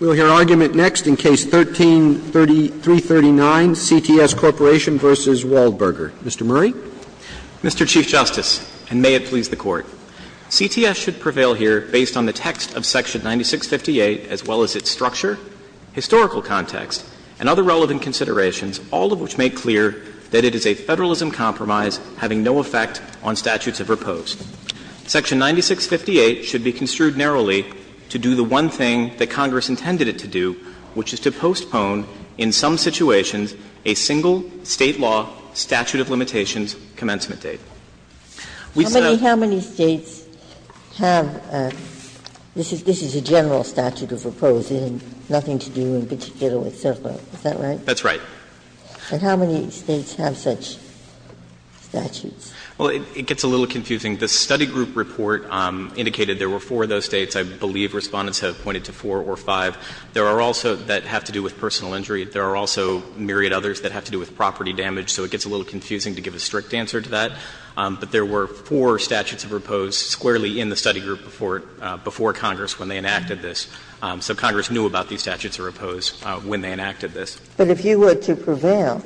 We will hear argument next in Case 13-3339, CTS Corp. v. Waldburger. Mr. Murray. Mr. Chief Justice, and may it please the Court, CTS should prevail here based on the text of Section 9658, as well as its structure, historical context, and other relevant considerations, all of which make clear that it is a Federalism compromise having no effect on statutes of repose. Section 9658 should be construed narrowly to do the one thing that Congress intended it to do, which is to postpone in some situations a single State law statute of limitations commencement date. We said that the State should prevail here based on the text of Section 9658, as well as its structure, historical context, and other relevant considerations, all of which make clear that it is a Federalism compromise having no effect on statutes And so, I think it's a little confusing. The study group report indicated there were four of those States. I believe Respondents have pointed to four or five. There are also that have to do with personal injury. There are also myriad others that have to do with property damage, so it gets a little confusing to give a strict answer to that. But there were four statutes of repose squarely in the study group before Congress when they enacted this, so Congress knew about these statutes of repose when they enacted this. But if you were to prevail,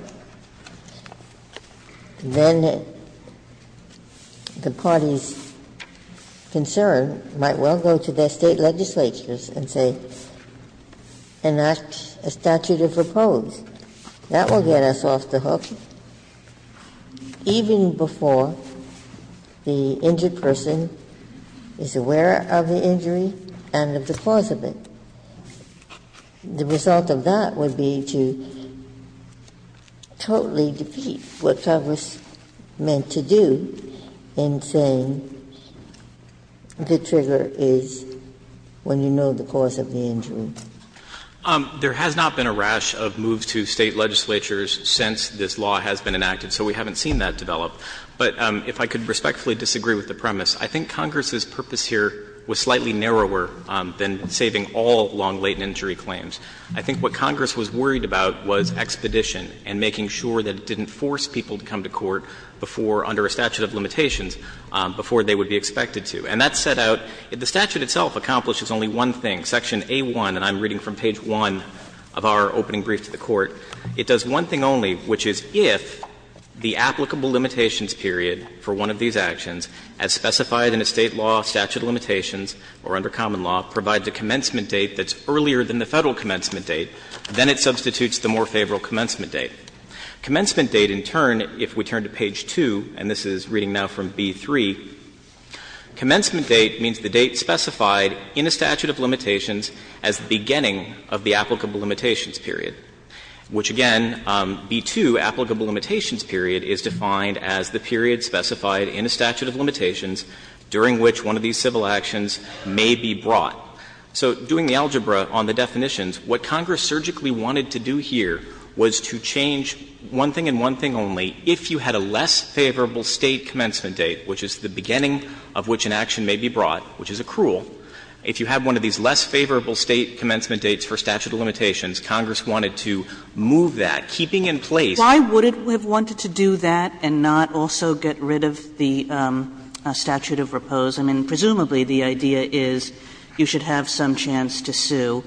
then the party's concern might well go to their State legislatures and say, enact a statute of repose. That will get us off the hook even before the injured person is aware of the injury and of the cause of it. And the result of that would be to totally defeat what Congress meant to do in saying the trigger is when you know the cause of the injury. There has not been a rash of moves to State legislatures since this law has been enacted, so we haven't seen that develop. But if I could respectfully disagree with the premise, I think Congress's purpose here was slightly narrower than saving all long-latent injury claims. I think what Congress was worried about was expedition and making sure that it didn't force people to come to court before, under a statute of limitations, before they would be expected to. And that set out the statute itself accomplishes only one thing, section A-1, and I'm reading from page 1 of our opening brief to the Court. It does one thing only, which is if the applicable limitations period for one of these actions as specified in a State law statute of limitations or under common law provides a commencement date that's earlier than the Federal commencement date, then it substitutes the more favorable commencement date. Commencement date, in turn, if we turn to page 2, and this is reading now from B-3, commencement date means the date specified in a statute of limitations as the beginning of the applicable limitations period, which, again, B-2, applicable limitations period is defined as the period specified in a statute of limitations during which one of these civil actions may be brought. So doing the algebra on the definitions, what Congress surgically wanted to do here was to change one thing and one thing only. If you had a less favorable State commencement date, which is the beginning of which an action may be brought, which is accrual, if you had one of these less favorable State commencement dates for statute of limitations, Congress wanted to move that, keeping in place. Kagan. Why would it have wanted to do that and not also get rid of the statute of repose? I mean, presumably, the idea is you should have some chance to sue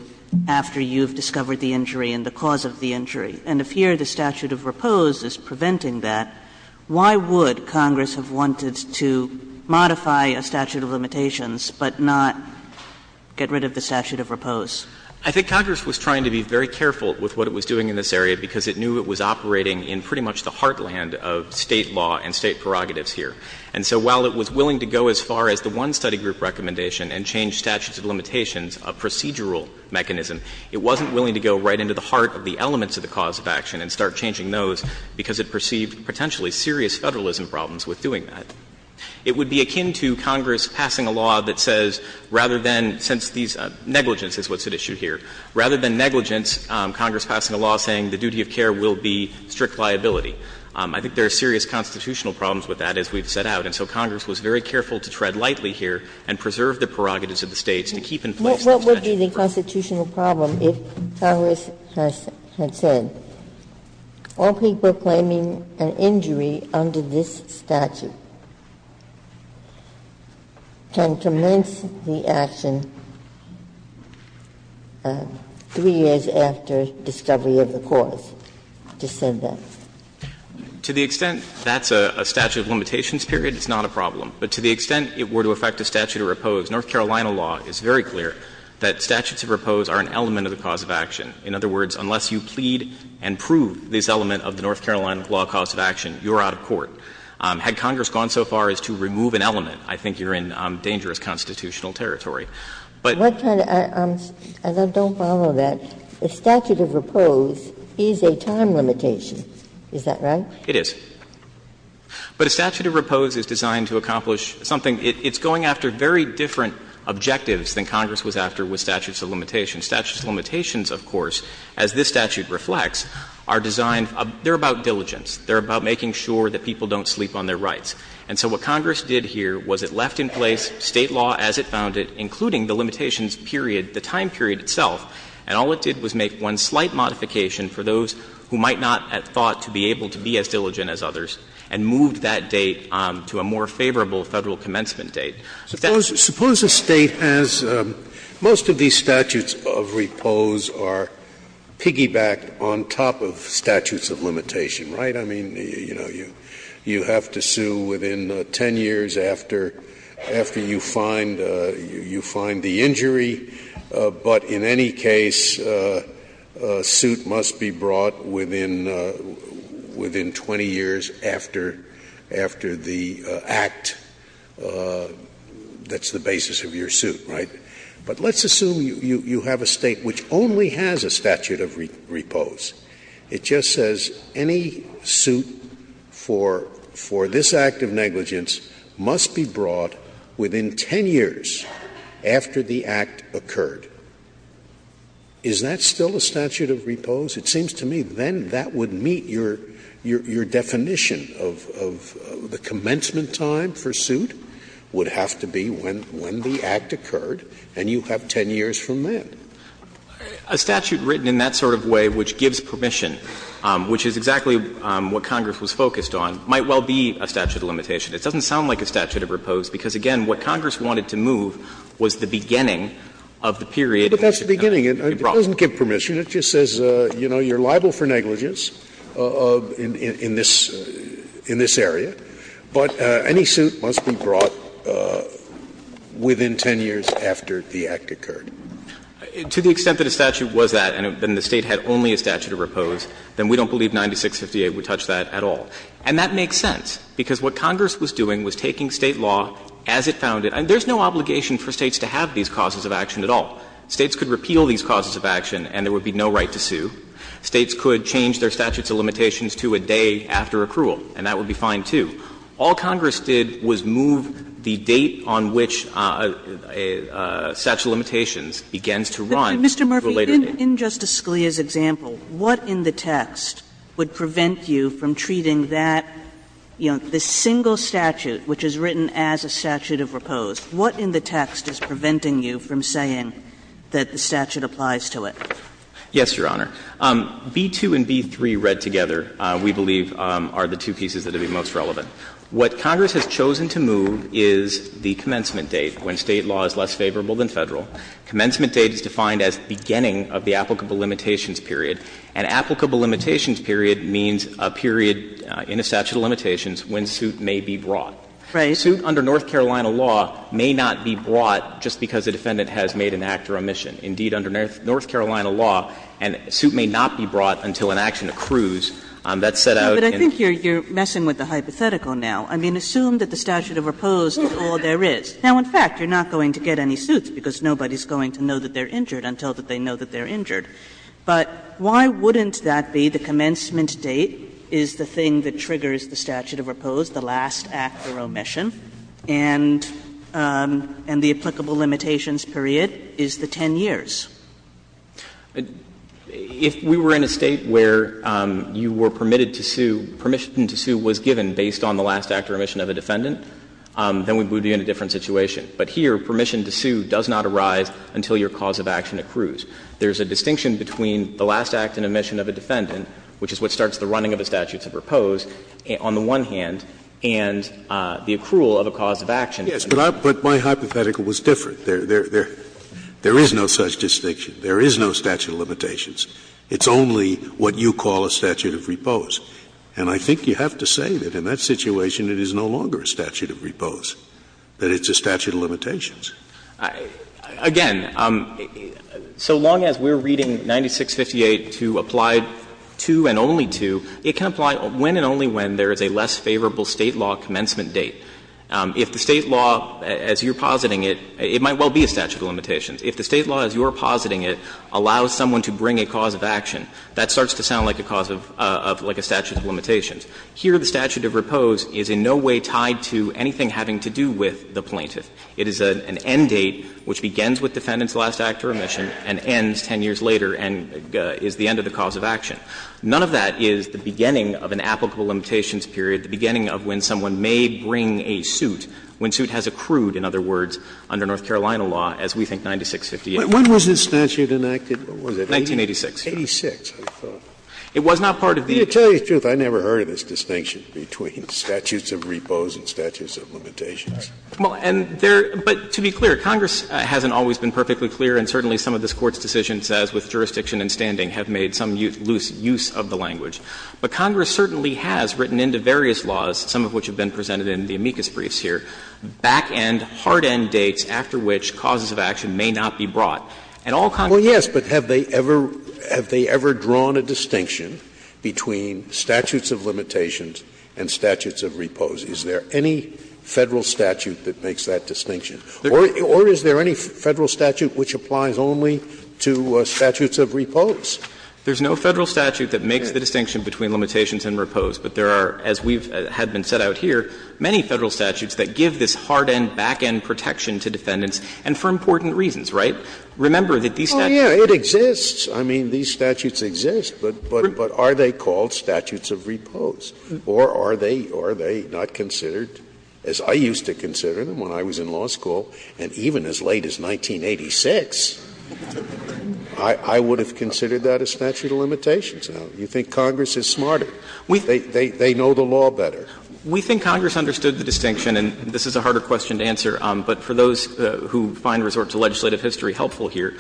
after you've discovered the injury and the cause of the injury. And if here the statute of repose is preventing that, why would Congress have wanted to modify a statute of limitations but not get rid of the statute of repose? I think Congress was trying to be very careful with what it was doing in this area because it knew it was operating in pretty much the heartland of State law and State prerogatives here. And so while it was willing to go as far as the one study group recommendation and change statutes of limitations, a procedural mechanism, it wasn't willing to go right into the heart of the elements of the cause of action and start changing those because it perceived potentially serious Federalism problems with doing that. It would be akin to Congress passing a law that says rather than, since these negligence is what's at issue here, rather than negligence, Congress passing a law saying the duty of care will be strict liability. I think there are serious constitutional problems with that, as we've set out. And so Congress was very careful to tread lightly here and preserve the prerogatives of the States to keep in place the statute of repose. Ginsburg's What would be the constitutional problem if Congress had said, all people claiming an injury under this statute can commence the action 3 years after discovery of the cause, to send them? To the extent that's a statute of limitations period, it's not a problem. But to the extent it were to affect a statute of repose, North Carolina law is very clear that statutes of repose are an element of the cause of action. In other words, unless you plead and prove this element of the North Carolina law cause of action, you're out of court. Had Congress gone so far as to remove an element, I think you're in dangerous constitutional territory. But what kind of as I don't follow that, a statute of repose is a statute of repose is a time limitation, is that right? It is. But a statute of repose is designed to accomplish something. It's going after very different objectives than Congress was after with statutes of limitations. Statutes of limitations, of course, as this statute reflects, are designed they're about diligence. They're about making sure that people don't sleep on their rights. And so what Congress did here was it left in place State law as it found it, including the limitations period, the time period itself, and all it did was make one slight modification for those who might not have thought to be able to be as diligent as others and moved that date to a more favorable Federal commencement date. Suppose a State has most of these statutes of repose are piggybacked on top of statutes of limitation, right? I mean, you know, you have to sue within 10 years after you find the injury. But in any case, a suit must be brought within 20 years after the act that's the basis of your suit, right? But let's assume you have a State which only has a statute of repose. It just says any suit for this act of negligence must be brought within 10 years after the act occurred. Is that still a statute of repose? It seems to me then that would meet your definition of the commencement time for suit would have to be when the act occurred and you have 10 years from then. A statute written in that sort of way which gives permission, which is exactly what Congress was focused on, might well be a statute of limitation. It doesn't sound like a statute of repose because, again, what Congress wanted to move was the beginning of the period in which it would be brought. But that's the beginning. It doesn't give permission. It just says, you know, you're liable for negligence in this area, but any suit must be brought within 10 years after the act occurred. To the extent that a statute was that and the State had only a statute of repose, then we don't believe 9658 would touch that at all. And that makes sense, because what Congress was doing was taking State law as it found it. There's no obligation for States to have these causes of action at all. States could repeal these causes of action and there would be no right to sue. States could change their statutes of limitations to a day after accrual, and that would be fine, too. All Congress did was move the date on which a statute of limitations begins to run to a later date. Kagan in Justice Scalia's example, what in the text would prevent you from treating that, you know, the single statute which is written as a statute of repose, what in the text is preventing you from saying that the statute applies to it? Yes, Your Honor. B-2 and B-3 read together, we believe, are the two pieces that would be most relevant. What Congress has chosen to move is the commencement date, when State law is less favorable than Federal. Commencement date is defined as the beginning of the applicable limitations period. And applicable limitations period means a period in a statute of limitations when suit may be brought. Right. A suit under North Carolina law may not be brought just because a defendant has made an act or omission. Indeed, under North Carolina law, a suit may not be brought until an action accrues. That's set out in the statute of repose. But I think you're messing with the hypothetical now. I mean, assume that the statute of repose is all there is. Now, in fact, you're not going to get any suits because nobody's going to know that they're injured until that they know that they're injured. But why wouldn't that be the commencement date is the thing that triggers the statute of repose, the last act or omission, and the applicable limitations period is the 10 years? If we were in a State where you were permitted to sue, permission to sue was given based on the last act or omission of a defendant, then we would be in a different situation. But here, permission to sue does not arise until your cause of action accrues. There's a distinction between the last act and omission of a defendant, which is what starts the running of a statute of repose, on the one hand, and the accrual of a cause of action. But my hypothetical was different. There is no such distinction. There is no statute of limitations. It's only what you call a statute of repose. And I think you have to say that in that situation it is no longer a statute of repose, that it's a statute of limitations. Again, so long as we're reading 9658 to apply to and only to, it can apply when and only when there is a less favorable State law commencement date. If the State law, as you're positing it, it might well be a statute of limitations. If the State law, as you're positing it, allows someone to bring a cause of action, that starts to sound like a cause of – like a statute of limitations. Here, the statute of repose is in no way tied to anything having to do with the plaintiff. It is an end date which begins with defendant's last act of remission and ends 10 years later and is the end of the cause of action. None of that is the beginning of an applicable limitations period, the beginning of when someone may bring a suit, when suit has accrued, in other words, under North Carolina law, as we think 9658 is. But when was this statute enacted? What was it? 1986. 1986, I thought. It was not part of the – To tell you the truth, I never heard of this distinction between statutes of repose and statutes of limitations. Well, and there – but to be clear, Congress hasn't always been perfectly clear and certainly some of this Court's decisions, as with jurisdiction and standing, have made some loose use of the language. But Congress certainly has written into various laws, some of which have been presented in the amicus briefs here, back-end, hard-end dates after which causes of action may not be brought. And all Congress has said is that the statute of limitations is not a cause of action. Scalia, and all Congress has said is that the statute of limitations is not a cause of action. So there is no statute that makes that distinction. Or is there any Federal statute which applies only to statutes of repose? There's no Federal statute that makes the distinction between limitations and repose. But there are, as we've had been set out here, many Federal statutes that give this hard-end, back-end protection to defendants, and for important reasons, right? Remember that these statutes are not a cause of action. Oh, yeah. It exists. I mean, these statutes exist. But are they called statutes of repose? Or are they not considered, as I used to consider them when I was in law school, and even as late as 1986, I would have considered that a statute of limitations? You think Congress is smarter? They know the law better. We think Congress understood the distinction, and this is a harder question to answer. But for those who find resort to legislative history helpful here,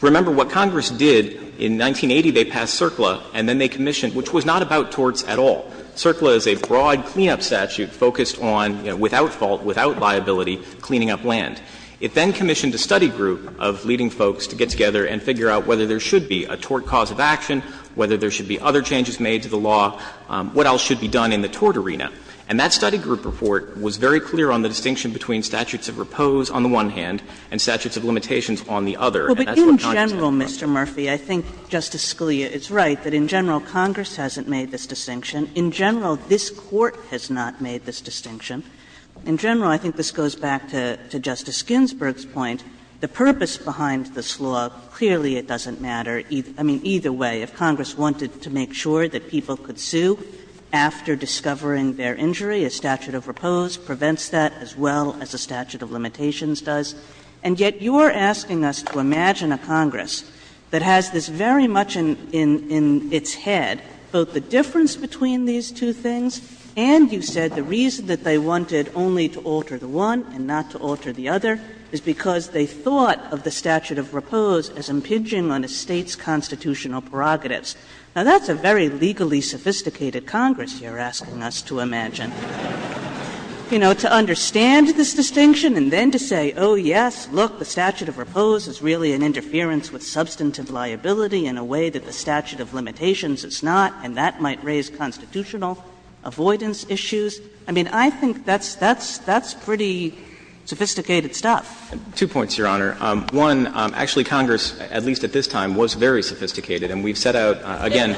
remember what Congress did in 1980. They passed CERCLA, and then they commissioned, which was not about torts at all. CERCLA is a broad cleanup statute focused on, you know, without fault, without liability, cleaning up land. It then commissioned a study group of leading folks to get together and figure out whether there should be a tort cause of action, whether there should be other changes made to the law, what else should be done in the tort arena. And that study group report was very clear on the distinction between statutes of repose on the one hand and statutes of limitations on the other. And that's what Congress has done. Kagan in general, Mr. Murphy, I think Justice Scalia is right, that in general, Congress hasn't made this distinction. In general, this Court has not made this distinction. In general, I think this goes back to Justice Ginsburg's point. The purpose behind this law, clearly it doesn't matter. I mean, either way, if Congress wanted to make sure that people could sue after discovering their injury, a statute of repose prevents that as well as a statute of limitations does. And yet you are asking us to imagine a Congress that has this very much in its head both the difference between these two things and, you said, the reason that they wanted only to alter the one and not to alter the other is because they thought of the statute of repose as impinging on a State's constitutional prerogatives. Now, that's a very legally sophisticated Congress you are asking us to imagine. You know, to understand this distinction and then to say, oh, yes, look, the statute of repose is really an interference with substantive liability in a way that the statute of limitations is not, and that might raise constitutional avoidance issues. I mean, I think that's pretty sophisticated stuff. Two points, Your Honor. One, actually, Congress, at least at this time, was very sophisticated. And we have set out, again,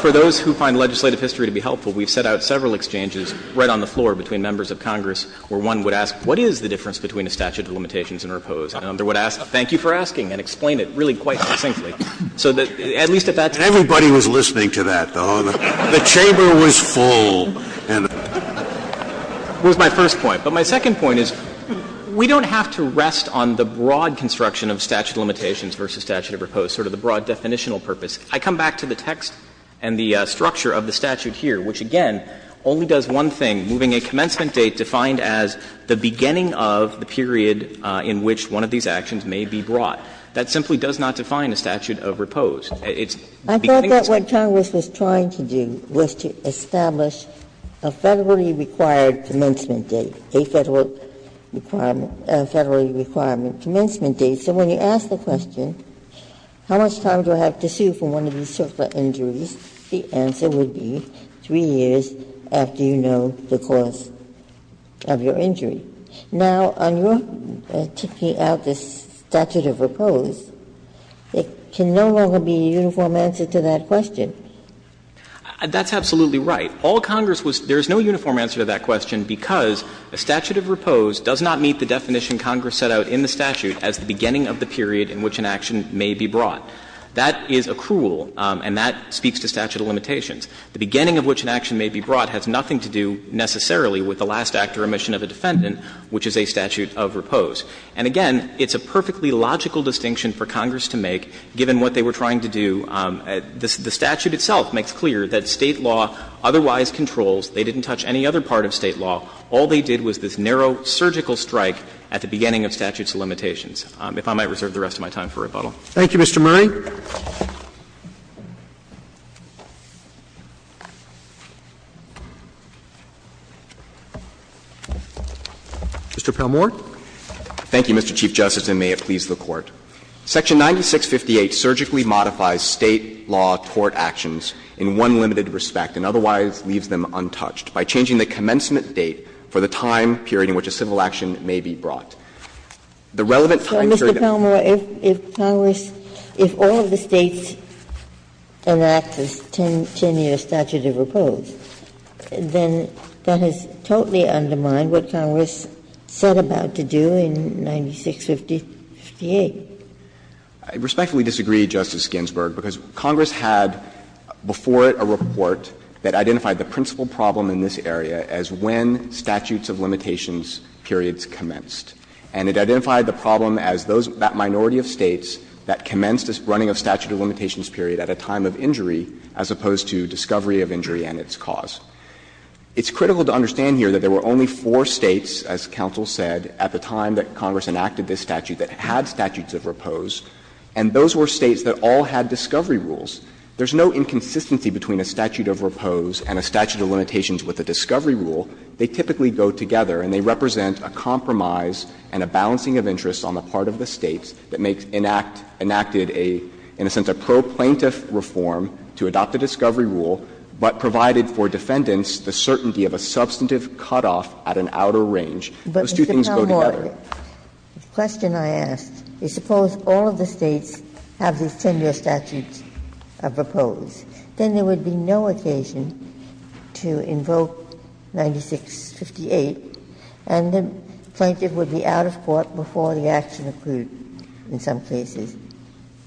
for those who find legislative history to be helpful, we have set out several exchanges right on the floor between members of Congress where one would ask, what is the difference between a statute of limitations and repose, and another would ask, thank you for asking, and explain it really quite succinctly. So that, at least at that time. Scalia, and everybody was listening to that, though. The chamber was full. That was my first point. But my second point is we don't have to rest on the broad construction of statute of limitations versus statute of repose, sort of the broad definitional purpose. I come back to the text and the structure of the statute here, which, again, only does one thing, moving a commencement date defined as the beginning of the period in which one of these actions may be brought. That simply does not define a statute of repose. It's beginning of the period. Ginsburg, I thought that what Congress was trying to do was to establish a Federally Required Commencement Date, a Federal Requirement, a Federally Requirement Commencement Date. So when you ask the question, how much time do I have to sue for one of these circular injuries, the answer would be 3 years after you know the cause of your injury. Now, on your taking out the statute of repose, it can no longer be a uniform answer to that question. That's absolutely right. All Congress was – there is no uniform answer to that question because a statute of repose does not meet the definition Congress set out in the statute as the beginning of the period in which an action may be brought. That is accrual, and that speaks to statute of limitations. The beginning of which an action may be brought has nothing to do necessarily with the last act or omission of a defendant, which is a statute of repose. And again, it's a perfectly logical distinction for Congress to make, given what they were trying to do. The statute itself makes clear that State law otherwise controls. They didn't touch any other part of State law. All they did was this narrow surgical strike at the beginning of statute of limitations. If I might reserve the rest of my time for rebuttal. Thank you, Mr. Murray. Mr. Palmore. Thank you, Mr. Chief Justice, and may it please the Court. Section 9658 surgically modifies State law tort actions in one limited respect and otherwise leaves them untouched by changing the commencement date for the time period in which a civil action may be brought. The relevant time period. So, Mr. Palmore, if Congress, if all of the States enact this 10-year statute of repose, then that has totally undermined what Congress set about to do in 9658. I respectfully disagree, Justice Ginsburg, because Congress had before it a report that identified the principal problem in this area as when statutes of limitations periods commenced. And it identified the problem as that minority of States that commenced this running of statute of limitations period at a time of injury, as opposed to discovery of injury and its cause. It's critical to understand here that there were only four States, as counsel said, at the time that Congress enacted this statute that had statutes of repose, and those were States that all had discovery rules. There's no inconsistency between a statute of repose and a statute of limitations with a discovery rule. They typically go together, and they represent a compromise and a balancing of interests on the part of the States that makes an act, enacted a, in a sense, a pro-plaintiff reform to adopt a discovery rule, but provided for defendants the certainty of a substantive cutoff at an outer range. Those two things go together. But, Mr. Palmore, the question I ask is, suppose all of the States have these 10-year statutes of repose. Then there would be no occasion to invoke 9658, and the plaintiff would be out of court before the action occurred in some cases. Palmore,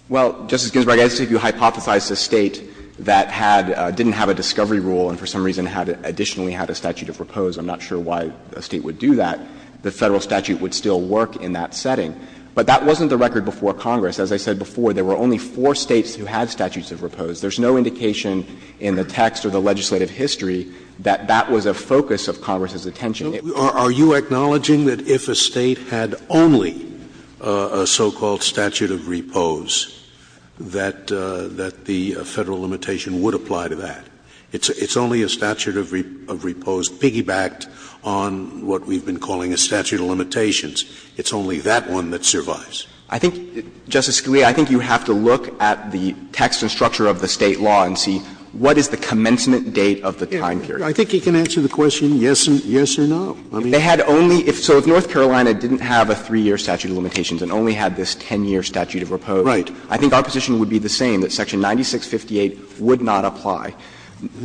Well, Justice Ginsburg, I guess if you hypothesize a State that had, didn't have a discovery rule and for some reason had additionally had a statute of repose, I'm not sure why a State would do that. The Federal statute would still work in that setting. But that wasn't the record before Congress. As I said before, there were only four States who had statutes of repose. There's no indication in the text or the legislative history that that was a focus of Congress's attention. Scalia, Are you acknowledging that if a State had only a so-called statute of repose that the Federal limitation would apply to that? It's only a statute of repose piggybacked on what we've been calling a statute of limitations. It's only that one that survives. Palmore, I think, Justice Scalia, I think you have to look at the text and structure of the State law and see what is the commencement date of the time period. Scalia, I think you can answer the question yes or no. Palmore, They had only – so if North Carolina didn't have a three-year statute of limitations and only had this 10-year statute of repose, I think our position would be the same, that section 9658 would not apply.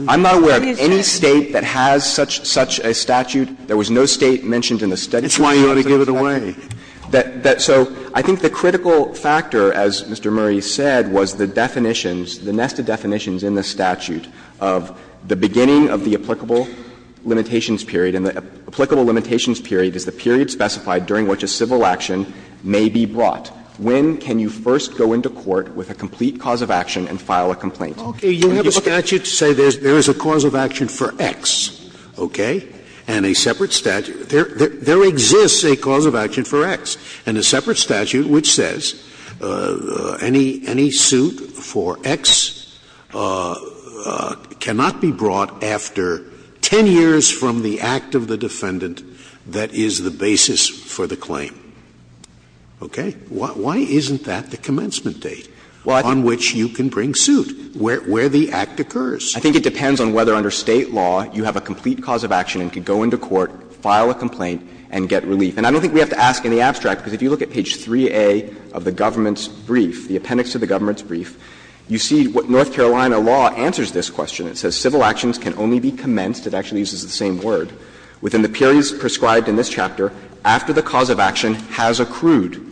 I'm not aware of any State that has such a statute. There was no State mentioned in the study. Scalia, That's why you ought to give it away. Palmore, So I think the critical factor, as Mr. Murray said, was the definitions, the nested definitions in the statute of the beginning of the applicable limitations period, and the applicable limitations period is the period specified during which a civil action may be brought. When can you first go into court with a complete cause of action and file a complaint? Scalia, Okay. You have a statute to say there is a cause of action for X, okay, and a separate statute. There exists a cause of action for X, and a separate statute which says any suit for X cannot be brought after 10 years from the act of the defendant that is the basis for the claim. Okay? Why isn't that the commencement date on which you can bring suit, where the act occurs? Palmore, I think it depends on whether under State law you have a complete cause of action and can go into court, file a complaint, and get relief. And I don't think we have to ask in the abstract, because if you look at page 3A of the government's brief, the appendix to the government's brief, you see what North Carolina law answers this question. It says, ''Civil actions can only be commenced'' It actually uses the same word. ''within the periods prescribed in this chapter after the cause of action has accrued.''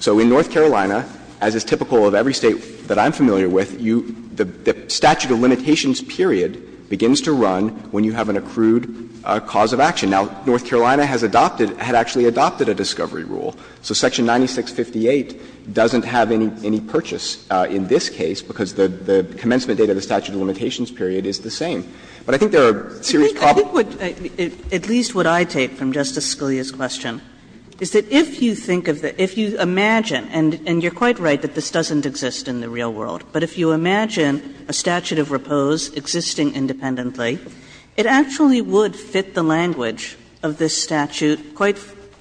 So in North Carolina, as is typical of every State that I'm familiar with, you the statute of limitations period begins to run when you have an accrued cause of action. Now, North Carolina has adopted, had actually adopted a discovery rule. So section 9658 doesn't have any purchase in this case, because the commencement date of the statute of limitations period is the same. But I think there are serious problems. At least what I take from Justice Scalia's question is that if you think of the – if you imagine, and you're quite right that this doesn't exist in the real world, but if you imagine a statute of repose existing independently, it actually would fit the language of this statute quite,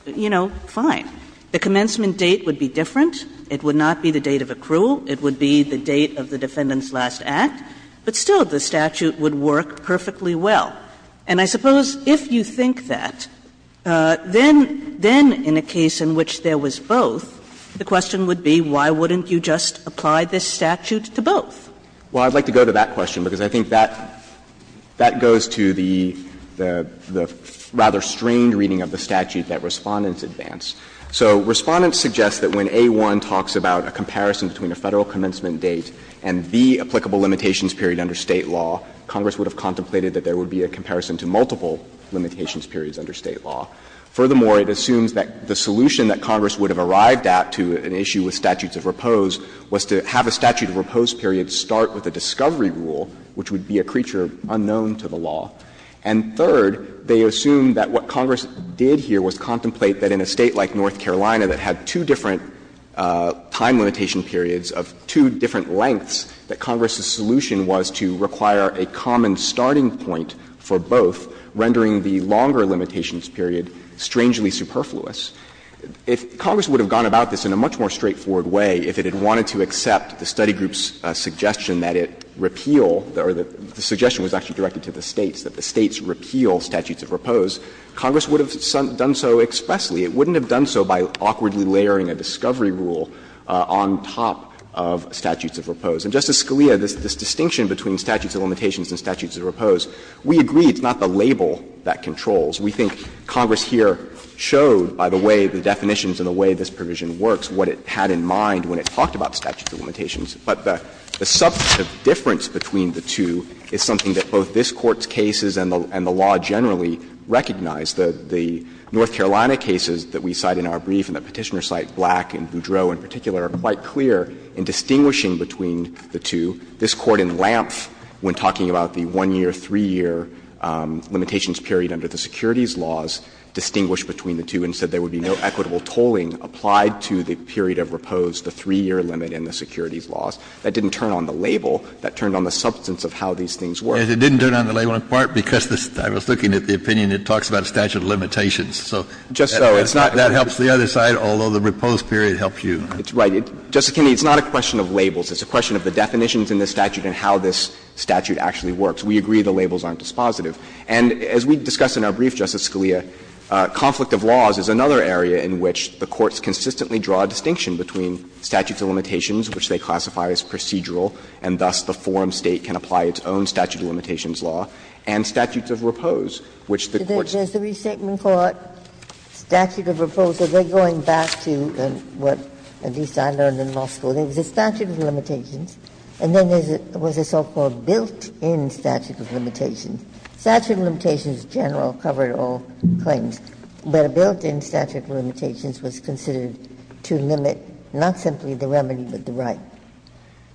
you know, fine. The commencement date would be different. It would not be the date of accrual. It would be the date of the defendant's last act. But still, the statute would work perfectly well. And I suppose if you think that, then, then in a case in which there was both, the question would be why wouldn't you just apply this statute to both? Well, I'd like to go to that question, because I think that that goes to the – the rather strange reading of the statute that Respondents advanced. So Respondents suggests that when A1 talks about a comparison between a Federal commencement date and the applicable limitations period under State law, Congress would have contemplated that there would be a comparison to multiple limitations periods under State law. Furthermore, it assumes that the solution that Congress would have arrived at to an issue with statutes of repose was to have a statute of repose period start with a discovery rule, which would be a creature unknown to the law. And third, they assume that what Congress did here was contemplate that in a State like North Carolina that had two different time limitation periods of two different lengths, that Congress's solution was to require a common starting point for both, rendering the longer limitations period strangely superfluous. If Congress would have gone about this in a much more straightforward way, if it had wanted to accept the study group's suggestion that it repeal or the suggestion was actually directed to the States, that the States repeal statutes of repose, Congress would have done so expressly. It wouldn't have done so by awkwardly layering a discovery rule on top of statutes of repose. And, Justice Scalia, this distinction between statutes of limitations and statutes of repose, we agree it's not the label that controls. We think Congress here showed by the way the definitions and the way this provision works what it had in mind when it talked about statutes of limitations. But the substantive difference between the two is something that both this Court's cases and the law generally recognize. The North Carolina cases that we cite in our brief and the Petitioner's cite, Black and Boudreau in particular, are quite clear in distinguishing between the two. This Court in Lampf, when talking about the one-year, three-year limitations period under the securities laws, distinguished between the two and said there would be no equitable tolling applied to the period of repose, the three-year limit in the securities laws. That didn't turn on the label. That turned on the substance of how these things work. Kennedy, it didn't turn on the label in part because I was looking at the opinion and it talks about a statute of limitations. So that helps the other side, although the repose period helps you. It's right. Justice Kennedy, it's not a question of labels. It's a question of the definitions in this statute and how this statute actually works. We agree the labels aren't dispositive. And as we discussed in our brief, Justice Scalia, conflict of laws is another area in which the courts consistently draw a distinction between statutes of limitations, which they classify as procedural, and thus the forum State can apply its own statute of limitations law, and statutes of repose, which the courts do. Does the Restatement Court statute of repose, are they going back to what at least I learned in law school? There was a statute of limitations and then there was a so-called built-in statute of limitations. Statute of limitations in general covered all claims, but a built-in statute of limitations was considered to limit not simply the remedy, but the right.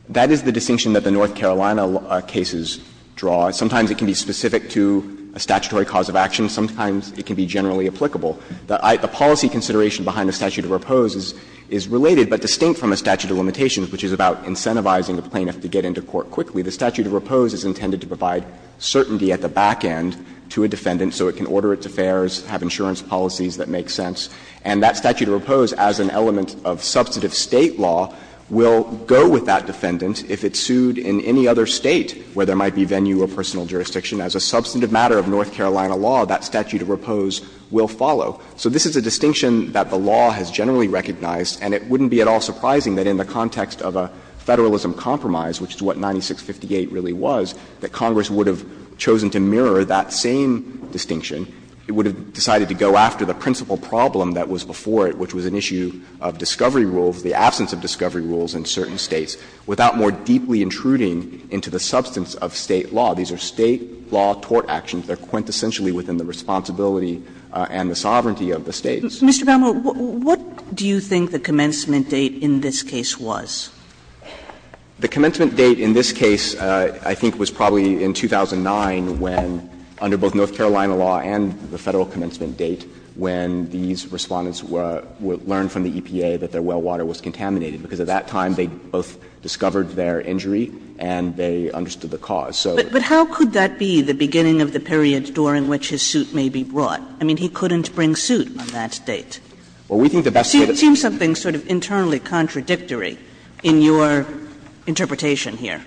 That is the distinction that the North Carolina cases draw. Sometimes it can be specific to a statutory cause of action. Sometimes it can be generally applicable. The policy consideration behind the statute of repose is related, but distinct from a statute of limitations, which is about incentivizing a plaintiff to get into court quickly. The statute of repose is intended to provide certainty at the back end to a defendant so it can order its affairs, have insurance policies that make sense. And that statute of repose, as an element of substantive State law, will go with that defendant if it's sued in any other State where there might be venue or personal jurisdiction. As a substantive matter of North Carolina law, that statute of repose will follow. So this is a distinction that the law has generally recognized, and it wouldn't be at all surprising that in the context of a Federalism compromise, which is what 9658 really was, that Congress would have chosen to mirror that same distinction. It would have decided to go after the principal problem that was before it, which was an issue of discovery rules, the absence of discovery rules in certain States, without more deeply intruding into the substance of State law. These are State law tort actions. They are quintessentially within the responsibility and the sovereignty of the States. What do you think the commencement date in this case was? The commencement date in this case I think was probably in 2009, when under both Carolina law and the Federal commencement date, when these Respondents learned from the EPA that their well water was contaminated, because at that time they both discovered their injury and they understood the cause. So the question is how could that be the beginning of the period during which his suit may be brought? I mean, he couldn't bring suit on that date. Well, we think the best way that's possible is to bring suit. It seems something sort of internally contradictory in your interpretation here.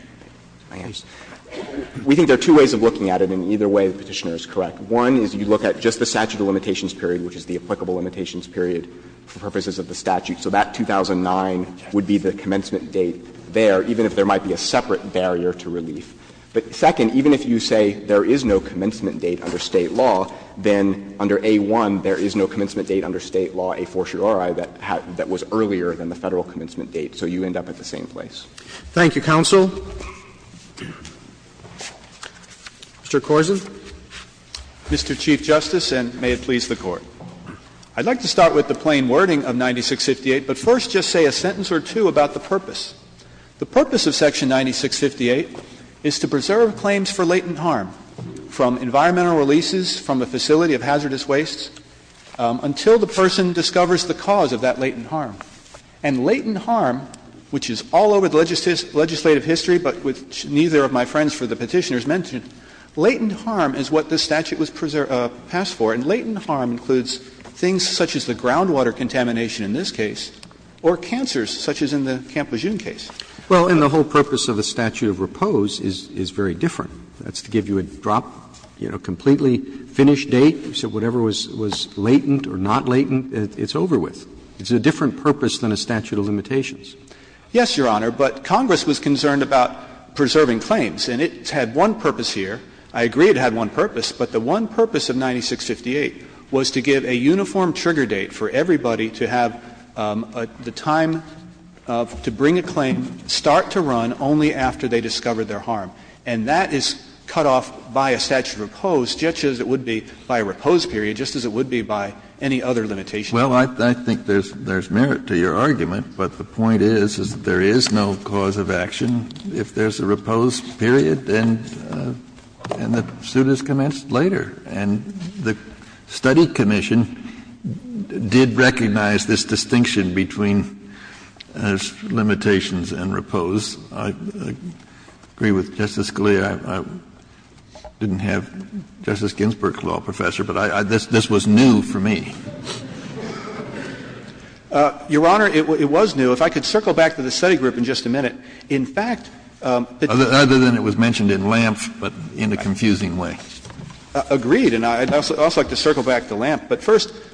We think there are two ways of looking at it, and either way the Petitioner is correct. One is you look at just the statute of limitations period, which is the applicable limitations period for purposes of the statute. So that 2009 would be the commencement date there, even if there might be a separate barrier to relief. But second, even if you say there is no commencement date under State law, then under A-1 there is no commencement date under State law a fortiori that was earlier than the Federal commencement date, so you end up at the same place. Thank you, counsel. Mr. Korsen. Mr. Chief Justice, and may it please the Court. I'd like to start with the plain wording of 9658, but first just say a sentence or two about the purpose. The purpose of section 9658 is to preserve claims for latent harm from environmental releases from a facility of hazardous wastes until the person discovers the cause of that latent harm. And latent harm, which is all over the legislative history, but which neither of my friends for the Petitioner's mentioned, latent harm is what this statute was passed for. And latent harm includes things such as the groundwater contamination in this case or cancers such as in the Camp Lejeune case. Well, and the whole purpose of the statute of repose is very different. That's to give you a drop, you know, completely finished date, so whatever was latent or not latent, it's over with. It's a different purpose than a statute of limitations. Yes, Your Honor, but Congress was concerned about preserving claims, and it had one purpose here. I agree it had one purpose, but the one purpose of 9658 was to give a uniform trigger date for everybody to have the time to bring a claim, start to run only after they discovered their harm. And that is cut off by a statute of repose, just as it would be by a repose period, just as it would be by any other limitation. Well, I think there's merit to your argument, but the point is, is that there is no cause of action if there's a repose period and the suit is commenced later. And the study commission did recognize this distinction between limitations and repose. I agree with Justice Scalia. I didn't have Justice Ginsburg's law professor, but this was new for me. Your Honor, it was new. If I could circle back to the study group in just a minute. In fact,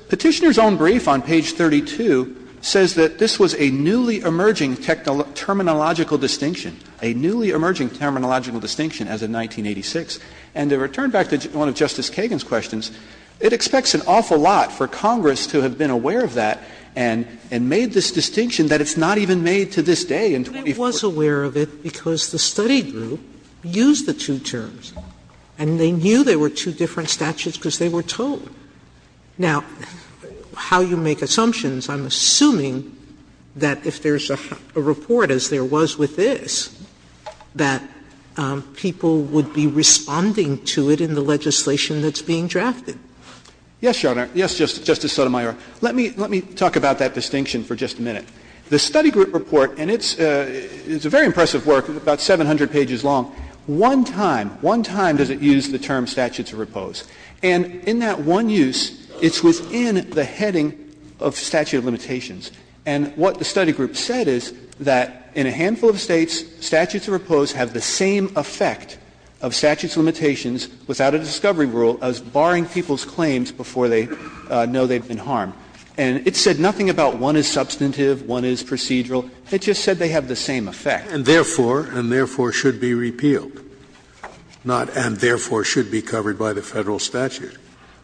Petitioner's own brief on page 32 says that this was a newly emerging terminological distinction, a newly emerging terminological distinction as of 1986. And to return back to one of Justice Kagan's questions, it expects an awful lot for Congress to be able to do that. It expects Congress to have been aware of that and made this distinction that it's not even made to this day in 2014. Sotomayor, I was aware of it because the study group used the two terms, and they knew they were two different statutes because they were told. Now, how you make assumptions, I'm assuming that if there's a report as there was with this, that people would be responding to it in the legislation that's being drafted. Yes, Your Honor. Yes, Justice Sotomayor. Let me talk about that distinction for just a minute. The study group report, and it's a very impressive work, about 700 pages long, one time, one time does it use the term statute of repose. And in that one use, it's within the heading of statute of limitations. And what the study group said is that in a handful of States, statutes of repose have the same effect of statute of limitations without a discovery rule as barring people's claims before they know they've been harmed. And it said nothing about one is substantive, one is procedural. It just said they have the same effect. And therefore, and therefore should be repealed, not and therefore should be covered by the Federal statute.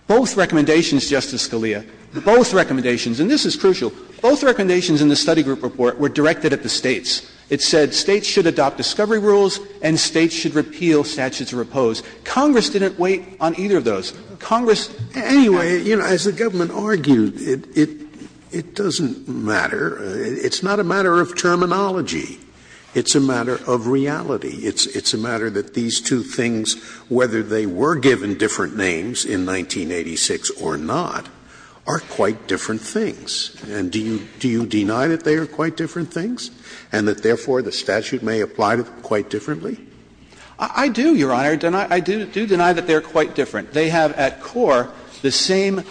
Both recommendations, Justice Scalia, both recommendations, and this is crucial, both recommendations in the study group report were directed at the States. It said States should adopt discovery rules and States should repeal statutes of repose. Congress didn't wait on either of those. Congress, anyway. Scalia, you know, as the government argued, it doesn't matter. It's not a matter of terminology. It's a matter of reality. It's a matter that these two things, whether they were given different names in 1986 or not, are quite different things. And do you deny that they are quite different things and that, therefore, the statute may apply to them quite differently? I do, Your Honor. I do deny that they are quite different. They have at core the same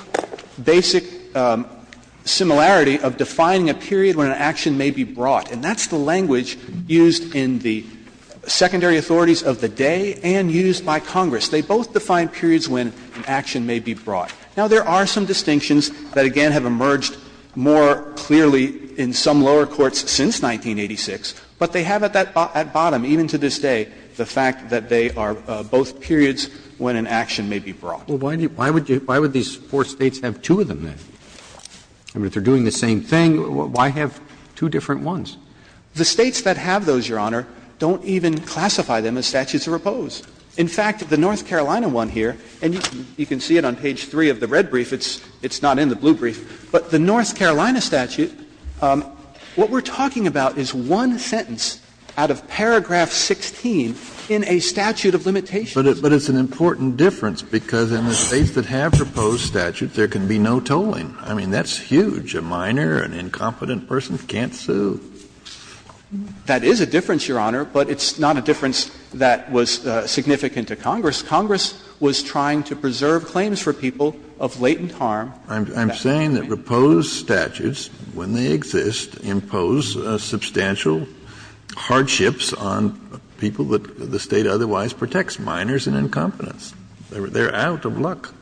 basic similarity of defining a period when an action may be brought. And that's the language used in the secondary authorities of the day and used by Congress. They both define periods when an action may be brought. Now, there are some distinctions that, again, have emerged more clearly in some lower courts since 1986, but they have at that bottom, even to this day, the fact that they are both periods when an action may be brought. Well, why would these four States have two of them, then? I mean, if they're doing the same thing, why have two different ones? The States that have those, Your Honor, don't even classify them as statutes of repose. In fact, the North Carolina one here, and you can see it on page 3 of the red brief, it's not in the blue brief, but the North Carolina statute, what we're talking about is one sentence out of paragraph 16 in a statute of limitation. But it's an important difference, because in the States that have repose statutes, there can be no tolling. I mean, that's huge. A minor, an incompetent person can't sue. That is a difference, Your Honor, but it's not a difference that was significant to Congress. Congress was trying to preserve claims for people of latent harm. Kennedy, I'm saying that repose statutes, when they exist, impose substantial hardships on people that the State otherwise protects, minors and incompetents. They're out of luck.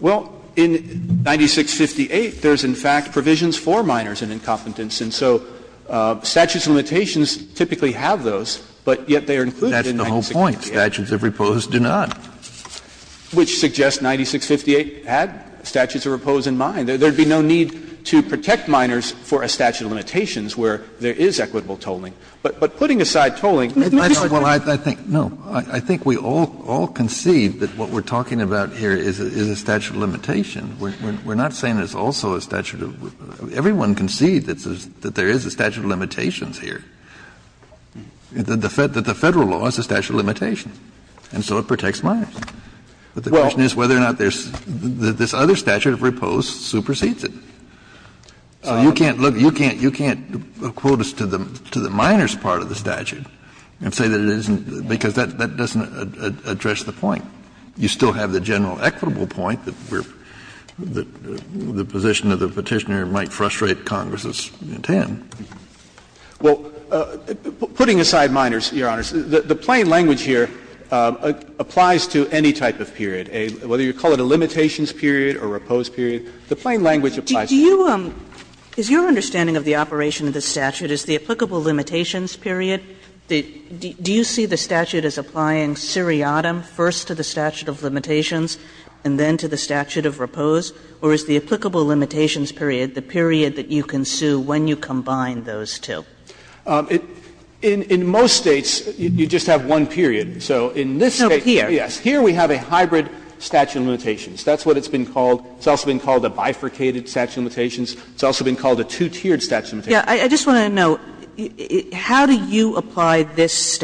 Well, in 9658, there's in fact provisions for minors and incompetents, and so statutes of limitations typically have those, but yet they are included in 9658. That's the whole point. Statutes of repose do not. Which suggests 9658 had statutes of repose in mind. There would be no need to protect minors for a statute of limitations where there is equitable tolling. But putting aside tolling, there's no reason why. Kennedy, I think, no, I think we all concede that what we're talking about here is a statute of limitation. We're not saying there's also a statute of limitation. Everyone concedes that there is a statute of limitations here, that the Federal law is a statute of limitation. And so it protects minors. But the question is whether or not there's this other statute of repose supersedes it. So you can't look, you can't, you can't quote us to the minors part of the statute and say that it isn't, because that doesn't address the point. You still have the general equitable point that we're, that the position of the Petitioner might frustrate Congress's intent. Well, putting aside minors, Your Honors, the plain language here applies to any type of period, whether you call it a limitations period or a repose period. The plain language applies to any period. Kagan is your understanding of the operation of the statute, is the applicable limitations period, do you see the statute as applying seriatim first to the statute of limitations and then to the statute of repose, or is the applicable limitations period the period that you can sue when you combine those two? In most States, you just have one period. So in this State, yes. Here we have a hybrid statute of limitations. That's what it's been called. It's also been called a bifurcated statute of limitations. It's also been called a two-tiered statute of limitations. I just want to know, how do you apply this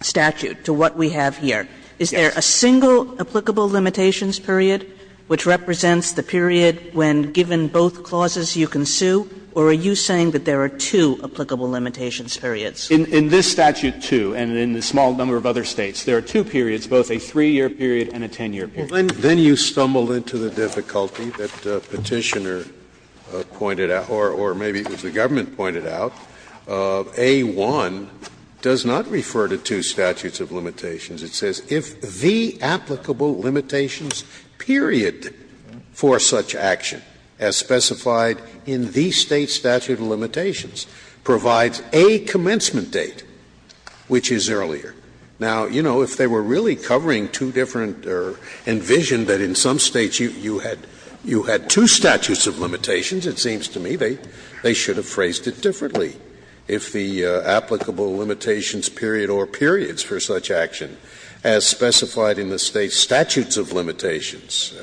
statute to what we have here? Is there a single applicable limitations period which represents the period when, given both clauses, you can sue, or are you saying that there are two applicable limitations periods? In this statute, too, and in a small number of other States, there are two periods, both a 3-year period and a 10-year period. Then you stumble into the difficulty that Petitioner pointed out, or maybe it was the government pointed out, A-1 does not refer to two statutes of limitations. It says, if the applicable limitations period for such action, as specified in the State statute of limitations, provides a commencement date, which is earlier. Now, you know, if they were really covering two different or envisioned that in some States you had two statutes of limitations, it seems to me they should have phrased it differently. If the applicable limitations period or periods for such action, as specified in the State statutes of limitations,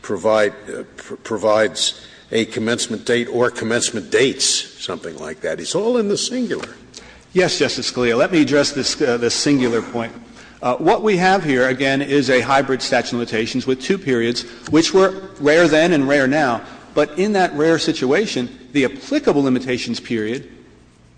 provides a commencement date or commencement dates, something like that. It's all in the singular. Yes, Justice Scalia. Let me address the singular point. What we have here, again, is a hybrid statute of limitations with two periods, which were rare then and rare now. But in that rare situation, the applicable limitations period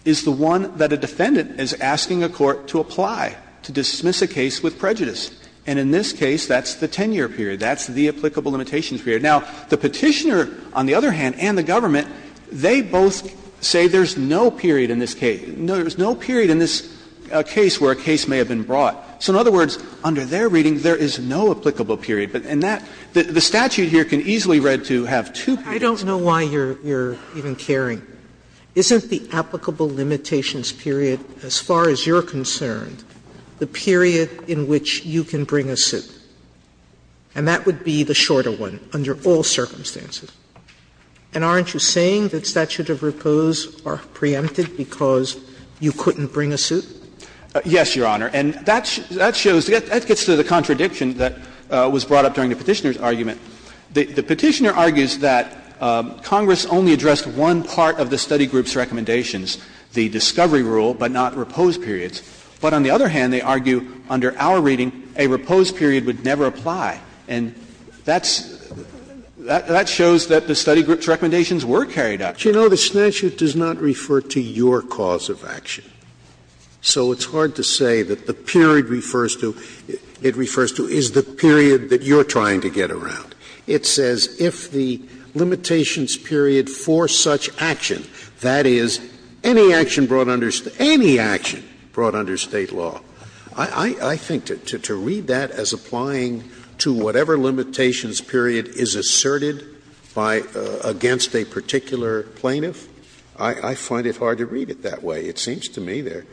is the one that a defendant is asking a court to apply, to dismiss a case with prejudice. And in this case, that's the 10-year period. That's the applicable limitations period. Now, the Petitioner, on the other hand, and the government, they both say there's no period in this case. There's no period in this case where a case may have been brought. So in other words, under their reading, there is no applicable period. But in that, the statute here can easily read to have two periods. Sotomayor, I don't know why you're even caring. Isn't the applicable limitations period, as far as you're concerned, the period in which you can bring a suit? And that would be the shorter one under all circumstances. And aren't you saying that statute of repose are preempted because you couldn't bring a suit? Yes, Your Honor. And that shows, that gets to the contradiction that was brought up during the Petitioner's argument. The Petitioner argues that Congress only addressed one part of the study group's recommendations, the discovery rule, but not repose periods. But on the other hand, they argue under our reading, a repose period would never apply. And that's, that shows that the study group's recommendations were carried out. Scalia, you know, the statute does not refer to your cause of action. So it's hard to say that the period refers to, it refers to, is the period that you're trying to get around. It says if the limitations period for such action, that is, any action brought under, any action brought under State law, I think to read that as applying to whatever limitations period is asserted by, against a particular plaintiff, I find it hard to read it that way. It seems to me they're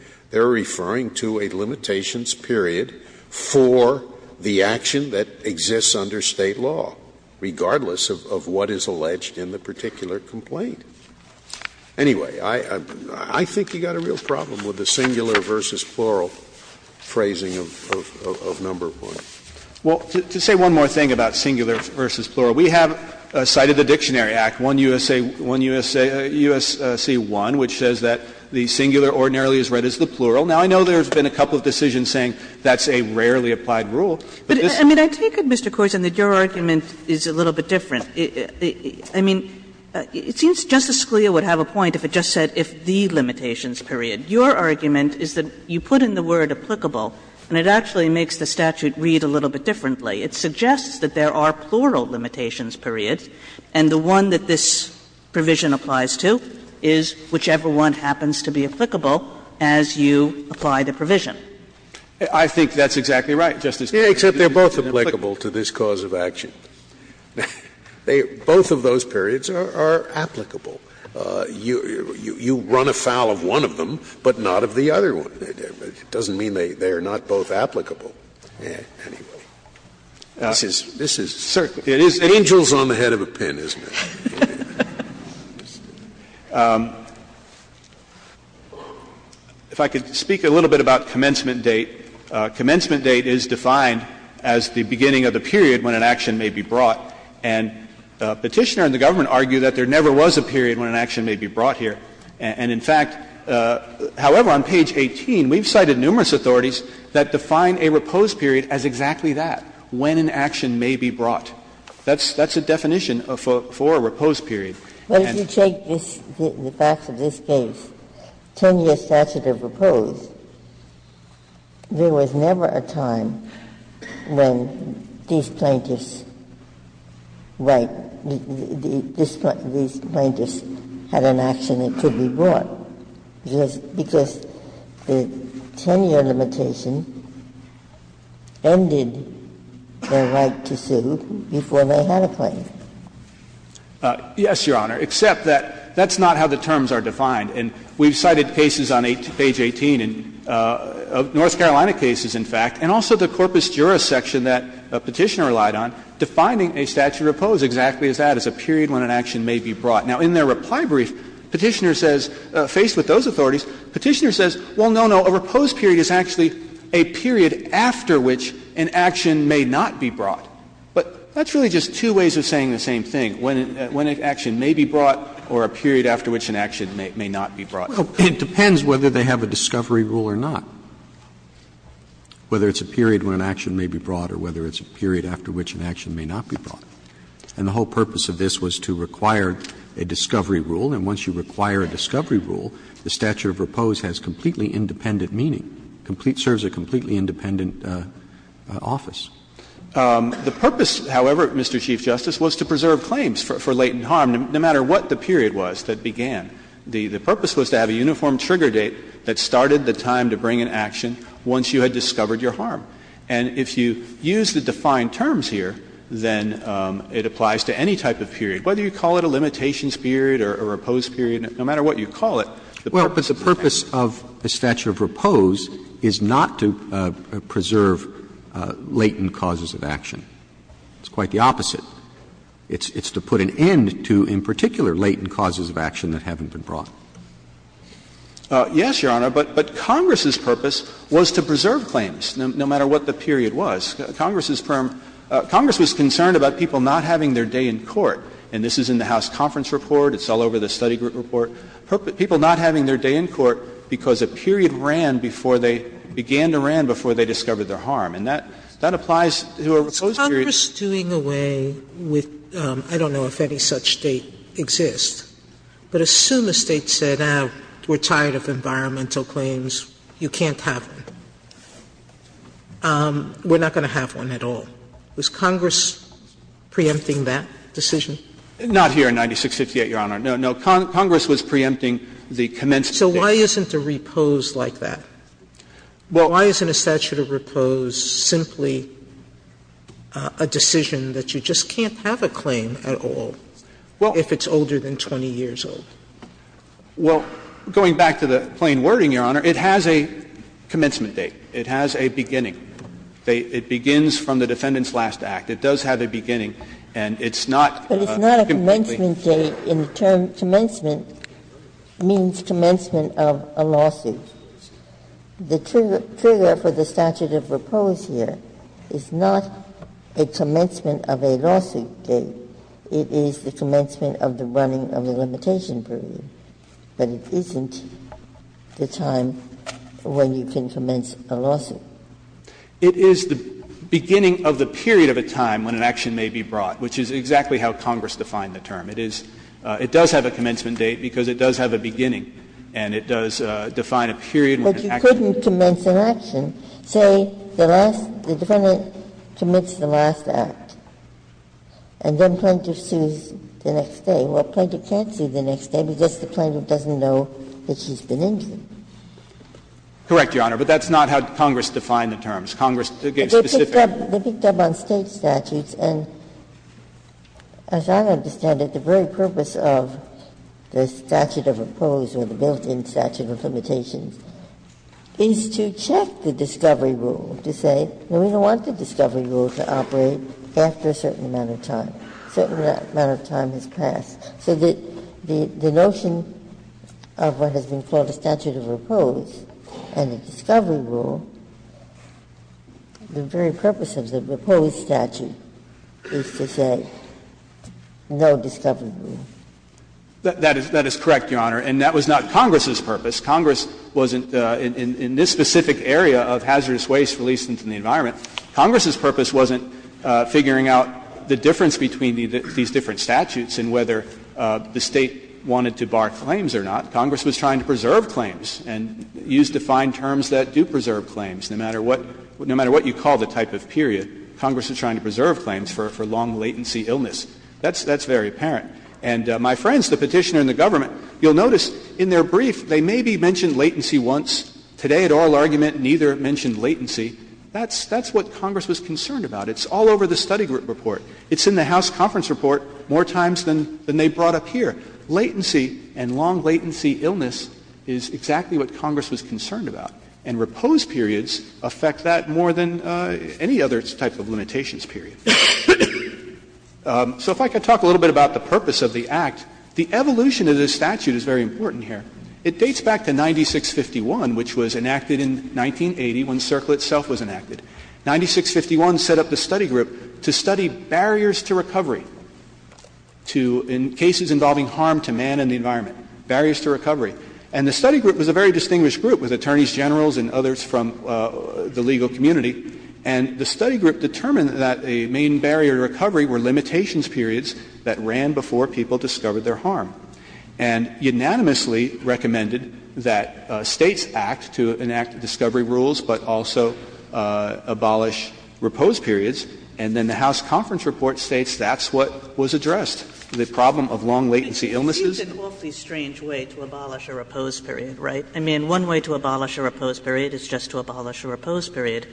referring to a limitations period for the action that exists under State law, regardless of what is alleged in the particular complaint. Anyway, I think you've got a real problem with the singular versus plural phrasing of number one. Well, to say one more thing about singular versus plural, we have cited the Dictionary Act, 1 U.S.A. 1 U.S.C. 1, which says that the singular ordinarily is read as the plural. Now, I know there's been a couple of decisions saying that's a rarely applied rule. But this is a little bit different. I mean, it seems Justice Scalia would have a point if it just said if the limitations period. Your argument is that you put in the word applicable, and it actually makes the statute read a little bit differently. It suggests that there are plural limitations periods, and the one that this provision applies to is whichever one happens to be applicable as you apply the provision. I think that's exactly right, Justice Kagan. Scalia, except they're both applicable to this cause of action. Both of those periods are applicable. You run afoul of one of them, but not of the other one. It doesn't mean they're not both applicable. This is certainly angels on the head of a pin, isn't it? If I could speak a little bit about commencement date. Commencement date is defined as the beginning of the period when an action may be brought. And Petitioner and the government argue that there never was a period when an action may be brought here. And in fact, however, on page 18, we've cited numerous authorities that define a repose period as exactly that, when an action may be brought. That's a definition for a repose period. But if you take this, the facts of this case, 10-year statute of repose, there was never a time when these plaintiffs had an action that could be brought, because the 10-year limitation ended their right to sue before they had a claim. Yes, Your Honor, except that that's not how the terms are defined. And we've cited cases on page 18, North Carolina cases, in fact, and also the corpus jura section that Petitioner relied on, defining a statute of repose exactly as that, as a period when an action may be brought. Now, in their reply brief, Petitioner says, faced with those authorities, Petitioner says, well, no, no, a repose period is actually a period after which an action may not be brought. But that's really just two ways of saying the same thing, when an action may be brought or a period after which an action may not be brought. Roberts, It depends whether they have a discovery rule or not, whether it's a period when an action may be brought or whether it's a period after which an action may not be brought. And the whole purpose of this was to require a discovery rule, and once you require a discovery rule, the statute of repose has completely independent meaning, complete – serves a completely independent office. The purpose, however, Mr. Chief Justice, was to preserve claims for latent harm, no matter what the period was that began. The purpose was to have a uniform trigger date that started the time to bring an action once you had discovered your harm. And if you use the defined terms here, then it applies to any type of period. Whether you call it a limitations period or a repose period, no matter what you call it, the purpose of the statute of repose is not to preserve latent causes of action. It's quite the opposite. It's to put an end to, in particular, latent causes of action that haven't been brought. Yes, Your Honor, but Congress's purpose was to preserve claims, no matter what the period was. Congress's purpose – Congress was concerned about people not having their day in court. And this is in the House conference report. It's all over the study group report. People not having their day in court because a period ran before they – began to ran before they discovered their harm. And that applies to a repose period. Sotomayor, I don't know if any such date exists, but assume a State said, ah, we're tired of environmental claims, you can't have them. We're not going to have one at all. Was Congress preempting that decision? Not here in 9658, Your Honor. No, no. Congress was preempting the commencement. So why isn't a repose like that? Well, why isn't a statute of repose simply a decision that you just can't have a claim at all if it's older than 20 years old? Well, going back to the plain wording, Your Honor, it has a commencement date. It has a beginning. It begins from the Defendant's last act. It does have a beginning, and it's not a completely new date. But it's not a commencement date in the term. Commencement means commencement of a lawsuit. The trigger for the statute of repose here is not a commencement of a lawsuit date. It is the commencement of the running of the limitation period. But it isn't the time when you can commence a lawsuit. It is the beginning of the period of a time when an action may be brought, which is exactly how Congress defined the term. It is – it does have a commencement date because it does have a beginning, and it does define a period when an action may be brought. But you couldn't commence an action, say, the last – the Defendant commits the last act. And then plaintiff sues the next day. Well, plaintiff can't sue the next day because the plaintiff doesn't know that she's been injured. Correct, Your Honor, but that's not how Congress defined the terms. Congress gave specific – They picked up on State statutes, and as I understand it, the very purpose of the statute of repose or the built-in statute of limitations is to check the discovery rule, to say, no, we don't want the discovery rule to operate after a certain amount of time. A certain amount of time has passed. So the notion of what has been called a statute of repose and a discovery rule, the very purpose of the repose statute is to say no discovery rule. That is correct, Your Honor, and that was not Congress's purpose. Congress wasn't – in this specific area of hazardous waste released into the environment, Congress's purpose wasn't figuring out the difference between these different statutes and whether the State wanted to bar claims or not. Congress was trying to preserve claims and use defined terms that do preserve claims, no matter what – no matter what you call the type of period. Congress was trying to preserve claims for long-latency illness. That's very apparent. And my friends, the Petitioner and the government, you'll notice in their brief they maybe mentioned latency once. Today, at oral argument, neither mentioned latency. That's what Congress was concerned about. It's all over the study report. It's in the House conference report more times than they brought up here. Latency and long-latency illness is exactly what Congress was concerned about. And repose periods affect that more than any other type of limitations period. So if I could talk a little bit about the purpose of the Act. The evolution of this statute is very important here. It dates back to 9651, which was enacted in 1980 when CERCLA itself was enacted. 9651 set up the study group to study barriers to recovery to – in cases involving harm to man and the environment, barriers to recovery. And the study group was a very distinguished group, with attorneys generals and others from the legal community, and the study group determined that a main barrier to recovery were limitations periods that ran before people discovered their harm. And unanimously recommended that States act to enact discovery rules, but also abolish repose periods. And then the House conference report states that's what was addressed, the problem of long-latency illnesses. Kagan, I think it's an awfully strange way to abolish a repose period, right? I mean, one way to abolish a repose period is just to abolish a repose period.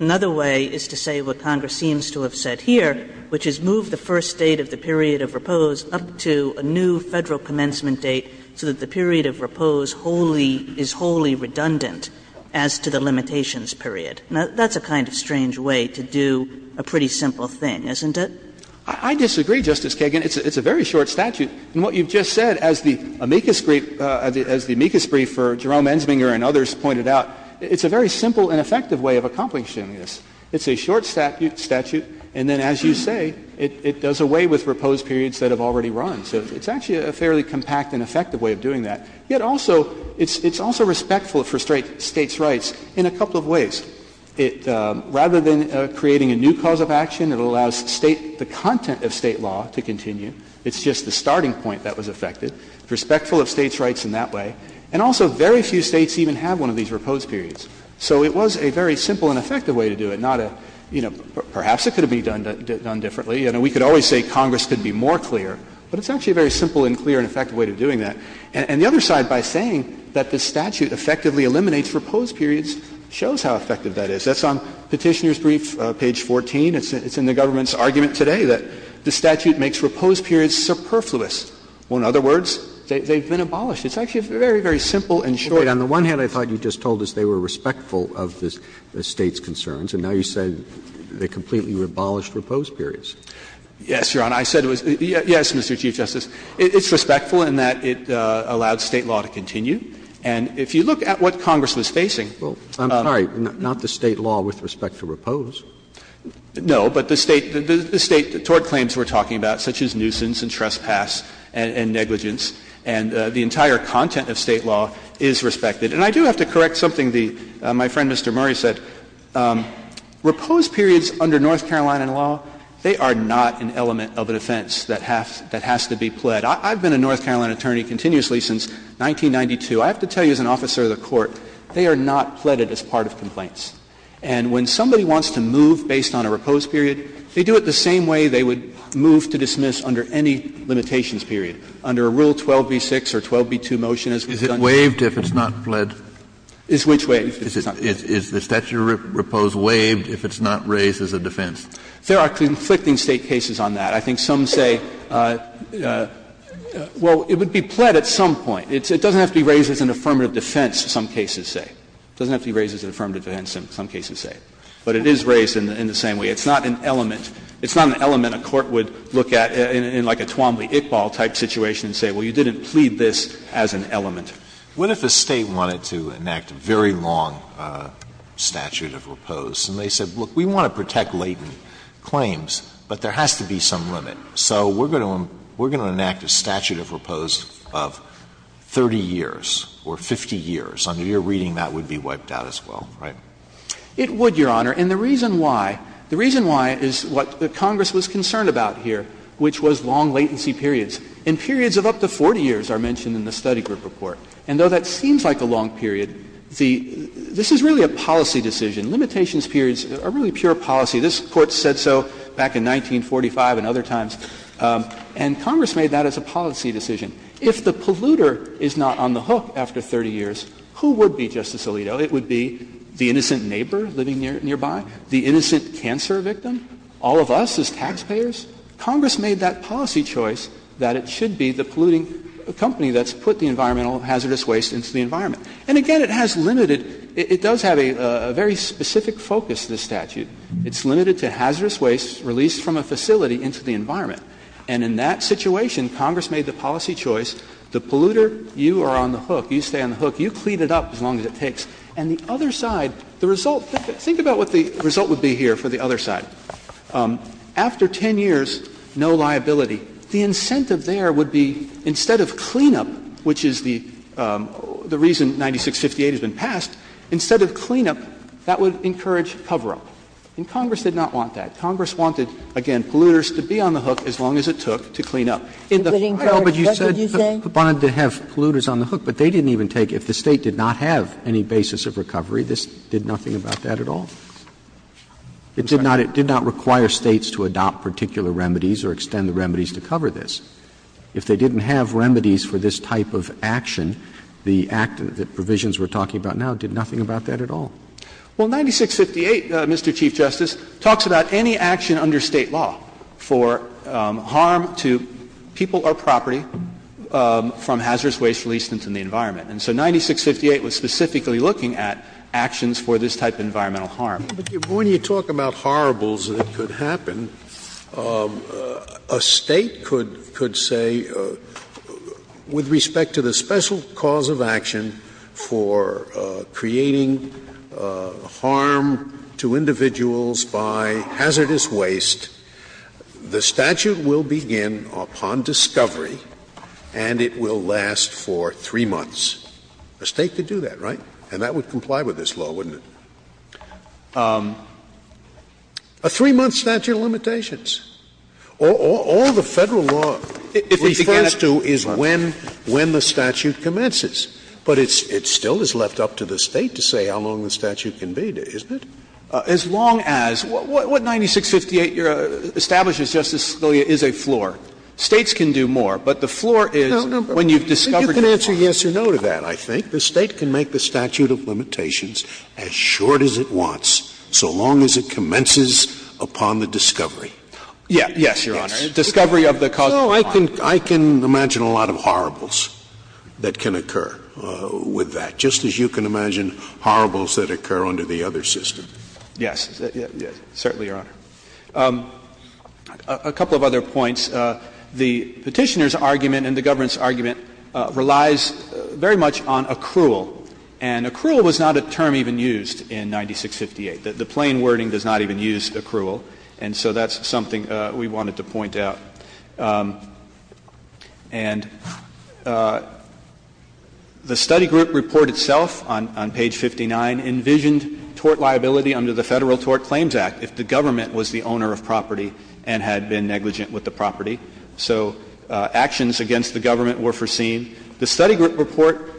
Another way is to say what Congress seems to have said here, which is move the first date of the period of repose up to a new Federal commencement date so that the period of repose wholly – is wholly redundant as to the limitations period. Now, that's a kind of strange way to do a pretty simple thing, isn't it? I disagree, Justice Kagan. It's a very short statute. And what you've just said, as the amicus brief for Jerome Ensminger and others pointed out, it's a very simple and effective way of accomplishing this. It's a short statute, and then, as you say, it does away with repose periods that have already run. So it's actually a fairly compact and effective way of doing that. Yet also, it's also respectful for State's rights in a couple of ways. It – rather than creating a new cause of action, it allows State – the content of State law to continue. It's just the starting point that was affected. It's respectful of State's rights in that way. And also, very few States even have one of these repose periods. So it was a very simple and effective way to do it, not a, you know, perhaps it could have been done differently. You know, we could always say Congress could be more clear. But it's actually a very simple and clear and effective way of doing that. And the other side, by saying that the statute effectively eliminates repose periods, shows how effective that is. That's on Petitioner's brief, page 14. It's in the government's argument today that the statute makes repose periods superfluous. Well, in other words, they've been abolished. It's actually very, very simple and short. Roberts, on the one hand, I thought you just told us they were respectful of the State's concerns. And now you said they completely abolished repose periods. Yes, Your Honor. I said it was – yes, Mr. Chief Justice. It's respectful in that it allowed State law to continue. And if you look at what Congress was facing – Well, I'm sorry, not the State law with respect to repose. No. But the State – the State tort claims we're talking about, such as nuisance and trespass and negligence, and the entire content of State law is respectful of State law with respect to repose. And I do have to correct something the – my friend, Mr. Murray, said. Repose periods under North Carolina law, they are not an element of a defense that has to be pled. I've been a North Carolina attorney continuously since 1992. I have to tell you, as an officer of the Court, they are not pledged as part of complaints. And when somebody wants to move based on a repose period, they do it the same way they would move to dismiss under any limitations period, under Rule 12b-6 or 12b-2 under the motion as we've done here. Is it waived if it's not pled? Is which waived? Is the statute of repose waived if it's not raised as a defense? There are conflicting State cases on that. I think some say, well, it would be pled at some point. It doesn't have to be raised as an affirmative defense, some cases say. It doesn't have to be raised as an affirmative defense, some cases say. But it is raised in the same way. It's not an element. It's not an element a court would look at in like a Twombly-Iqbal-type situation and say, well, you didn't plead this as an element. Alitoso, what if a State wanted to enact a very long statute of repose and they said, look, we want to protect latent claims, but there has to be some limit. So we're going to enact a statute of repose of 30 years or 50 years. Under your reading, that would be wiped out as well, right? It would, Your Honor. And the reason why, the reason why is what Congress was concerned about here, which was long latency periods. And periods of up to 40 years are mentioned in the study group report. And though that seems like a long period, the — this is really a policy decision. Limitations periods are really pure policy. This Court said so back in 1945 and other times. And Congress made that as a policy decision. If the polluter is not on the hook after 30 years, who would be, Justice Alito? It would be the innocent neighbor living nearby, the innocent cancer victim, all of us as taxpayers. Congress made that policy choice that it should be the polluting company that's put the environmental hazardous waste into the environment. And again, it has limited — it does have a very specific focus, this statute. It's limited to hazardous waste released from a facility into the environment. And in that situation, Congress made the policy choice, the polluter, you are on the hook, you stay on the hook, you clean it up as long as it takes. And the other side, the result — think about what the result would be here for the other side. After 10 years, no liability. The incentive there would be, instead of cleanup, which is the reason 9658 has been passed, instead of cleanup, that would encourage cover-up. And Congress did not want that. Congress wanted, again, polluters to be on the hook as long as it took to clean up. In the prior— But you said they wanted to have polluters on the hook, but they didn't even take — if the State did not have any basis of recovery, this did nothing about that at all? It did not — it did not require States to adopt particular remedies or extend the remedies to cover this. If they didn't have remedies for this type of action, the provisions we are talking about now did nothing about that at all. Well, 9658, Mr. Chief Justice, talks about any action under State law for harm to people or property from hazardous waste released into the environment. And so 9658 was specifically looking at actions for this type of environmental harm. But when you talk about horribles that could happen, a State could — could say, with respect to the special cause of action for creating harm to individuals by hazardous waste, the statute will begin upon discovery and it will last for 3 months. A State could do that, right? And that would comply with this law, wouldn't it? A 3-month statute of limitations. All the Federal law refers to is when the statute commences. But it still is left up to the State to say how long the statute can be, isn't it? As long as — what 9658 establishes, Justice Scalia, is a floor. States can do more, but the floor is when you've discovered the floor. No, no, but you can answer yes or no to that, I think. The State can make the statute of limitations as short as it wants so long as it commences upon the discovery. Yes, Your Honor. Discovery of the cause of harm. I can imagine a lot of horribles that can occur with that, just as you can imagine horribles that occur under the other system. Yes, certainly, Your Honor. A couple of other points. The Petitioner's argument and the government's argument relies very much on accrual. And accrual was not a term even used in 9658. The plain wording does not even use accrual. And so that's something we wanted to point out. And the study group report itself on page 59 envisioned tort liability under the Federal Tort Claims Act if the government was the owner of property and had been negligent with the property, so actions against the government were foreseen. The study group report,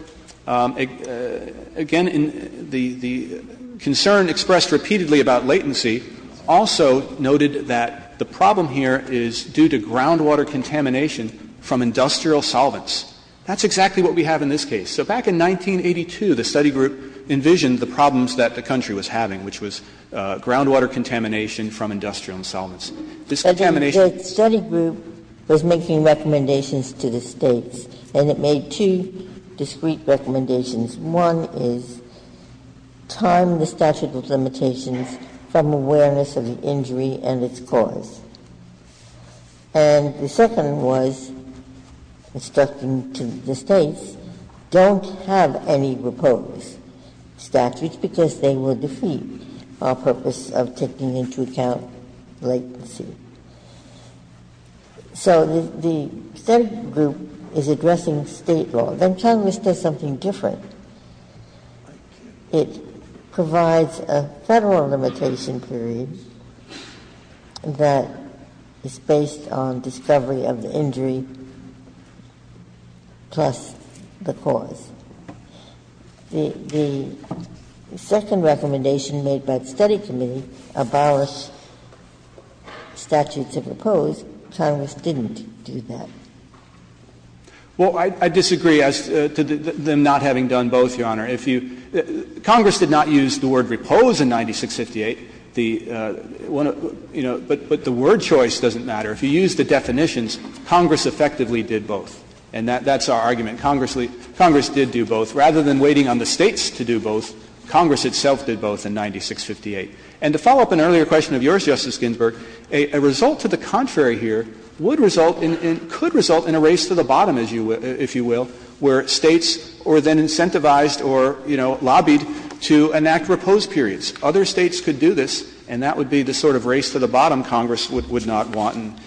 again, in the concern expressed repeatedly about latency also noted that the problem here is due to groundwater contamination from industrial solvents. That's exactly what we have in this case. So back in 1982, the study group envisioned the problems that the country was having, which was groundwater contamination from industrial solvents. This contamination The study group was making recommendations to the States, and it made two discrete recommendations. One is time the statute of limitations from awareness of the injury and its cause. And the second was instructing to the States, don't have any proposed statutes because they will defeat our purpose of taking into account latency. So the study group is addressing State law. Then Congress does something different. It provides a Federal limitation period that is based on discovery of the injury plus the cause. The second recommendation made by the study committee, abolish statutes of repose, Congress didn't do that. Well, I disagree as to them not having done both, Your Honor. If you – Congress did not use the word repose in 9658. The one – you know, but the word choice doesn't matter. If you use the definitions, Congress effectively did both. And that's our argument. Congress did do both. Rather than waiting on the States to do both, Congress itself did both in 9658. And to follow up an earlier question of yours, Justice Ginsburg, a result to the contrary here would result in – could result in a race to the bottom, if you will, where States were then incentivized or, you know, lobbied to enact repose periods. Other States could do this, and that would be the sort of race to the bottom Congress would not want.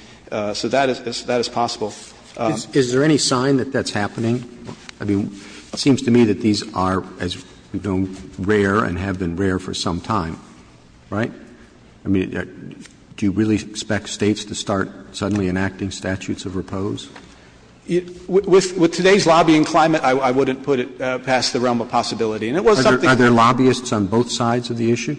So that is possible. Roberts Is there any sign that that's happening? I mean, it seems to me that these are, as we know, rare and have been rare for some time, right? I mean, do you really expect States to start suddenly enacting statutes of repose? With today's lobbying climate, I wouldn't put it past the realm of possibility. And it was something that we did. Are there lobbyists on both sides of the issue?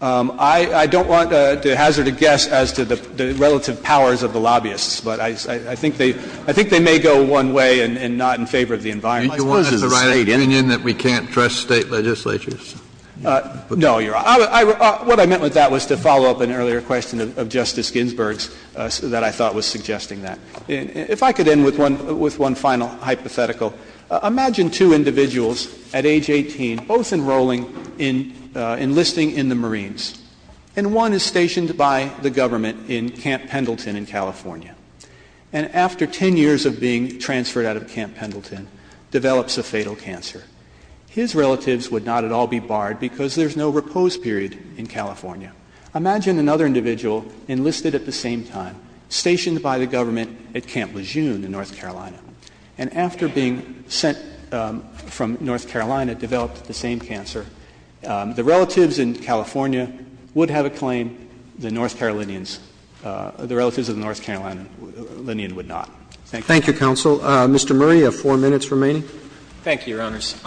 I don't want to hazard a guess as to the relative powers of the lobbyists. But I think they – I think they may go one way and not in favor of the environment. You want us to write an opinion that we can't trust State legislatures? No, you're – what I meant with that was to follow up an earlier question of Justice Ginsburg's that I thought was suggesting that. If I could end with one – with one final hypothetical. Imagine two individuals at age 18 both enrolling in – enlisting in the Marines. And one is stationed by the government in Camp Pendleton in California. And after 10 years of being transferred out of Camp Pendleton, develops a fatal cancer. His relatives would not at all be barred because there's no repose period in California. Imagine another individual enlisted at the same time, stationed by the government at Camp Lejeune in North Carolina. And after being sent from North Carolina, developed the same cancer, the relatives in California would have a claim, the North Carolinians – the relatives of the North Carolinian would not. Thank you. Thank you, counsel. Mr. Murray, you have four minutes remaining. Thank you, Your Honors.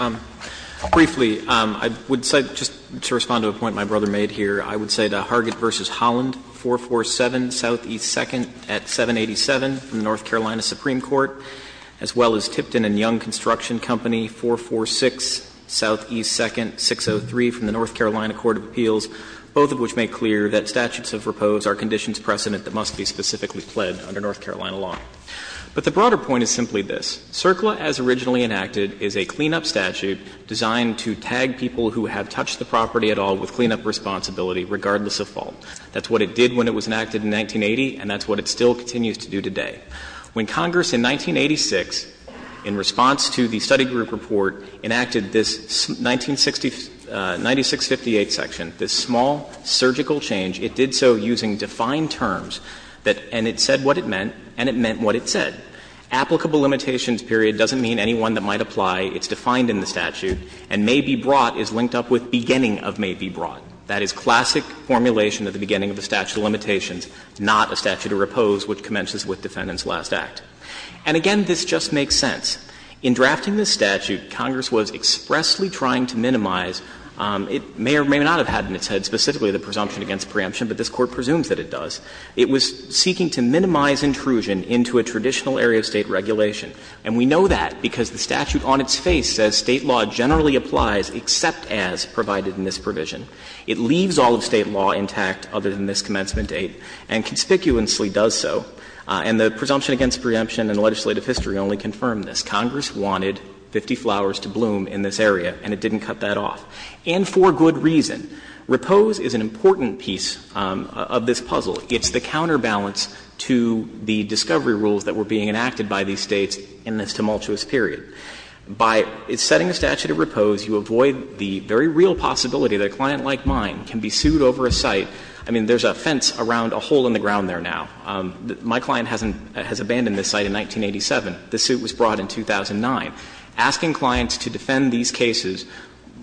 Briefly, I would say, just to respond to a point my brother made here, I would say that Hargett v. Holland, 447 Southeast 2nd at 787, North Carolina Supreme Court, as well as Tipton and Young Construction Company, 446 Southeast 2nd, 603 from the North Carolina Court of Appeals, both of which make clear that statutes of repose are conditions precedent that must be specifically pled under North Carolina law. But the broader point is simply this. CERCLA, as originally enacted, is a cleanup statute designed to tag people who have touched the property at all with cleanup responsibility, regardless of fault. That's what it did when it was enacted in 1980, and that's what it still continues to do today. When Congress in 1986, in response to the study group report, enacted this 19650 section, this small surgical change, it did so using defined terms, and it said what it meant, and it meant what it said. Applicable limitations period doesn't mean any one that might apply. It's defined in the statute, and may be brought is linked up with beginning of may be brought. That is classic formulation at the beginning of the statute of limitations, not a statute of repose which commences with defendant's last act. And again, this just makes sense. In drafting this statute, Congress was expressly trying to minimize – it may or may not have had in its head specifically the presumption against preemption, but this Court presumes that it does – it was seeking to minimize intrusion into a traditional area of State regulation. And we know that because the statute on its face says State law generally applies except as provided in this provision. It leaves all of State law intact other than this commencement date, and conspicuously does so. And the presumption against preemption in legislative history only confirmed this. Congress wanted 50 flowers to bloom in this area, and it didn't cut that off. And for good reason. Repose is an important piece of this puzzle. It's the counterbalance to the discovery rules that were being enacted by these States in this tumultuous period. By setting a statute of repose, you avoid the very real possibility that a client like mine can be sued over a site. I mean, there's a fence around a hole in the ground there now. My client hasn't – has abandoned this site in 1987. The suit was brought in 2009. Asking clients to defend these cases,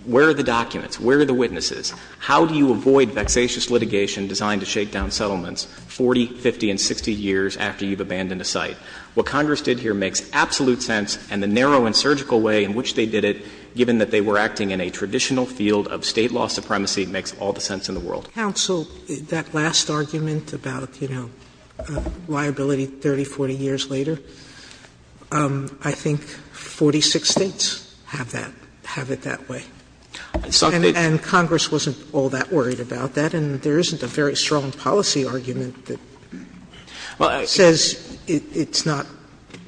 where are the documents? Where are the witnesses? How do you avoid vexatious litigation designed to shake down settlements 40, 50, and 60 years after you've abandoned a site? What Congress did here makes absolute sense, and the narrow and surgical way in which they did it, given that they were acting in a traditional field of State law supremacy, it makes all the sense in the world. Sotomayor, that last argument about, you know, liability 30, 40 years later, I think 46 States have that – have it that way. And Congress wasn't all that worried about that, and there isn't a very strong policy argument that says it's not –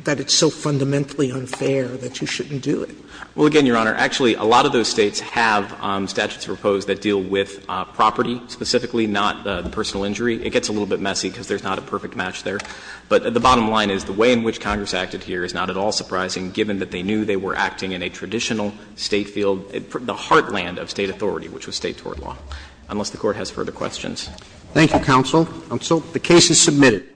that it's so fundamentally unfair that you shouldn't do it. Well, again, Your Honor, actually, a lot of those States have statutes of repose that deal with property specifically, not personal injury. It gets a little bit messy because there's not a perfect match there. But the bottom line is the way in which Congress acted here is not at all surprising, given that they knew they were acting in a traditional State field, the heartland of State authority, which was State tort law, unless the Court has further questions. Thank you, counsel. Counsel, the case is submitted.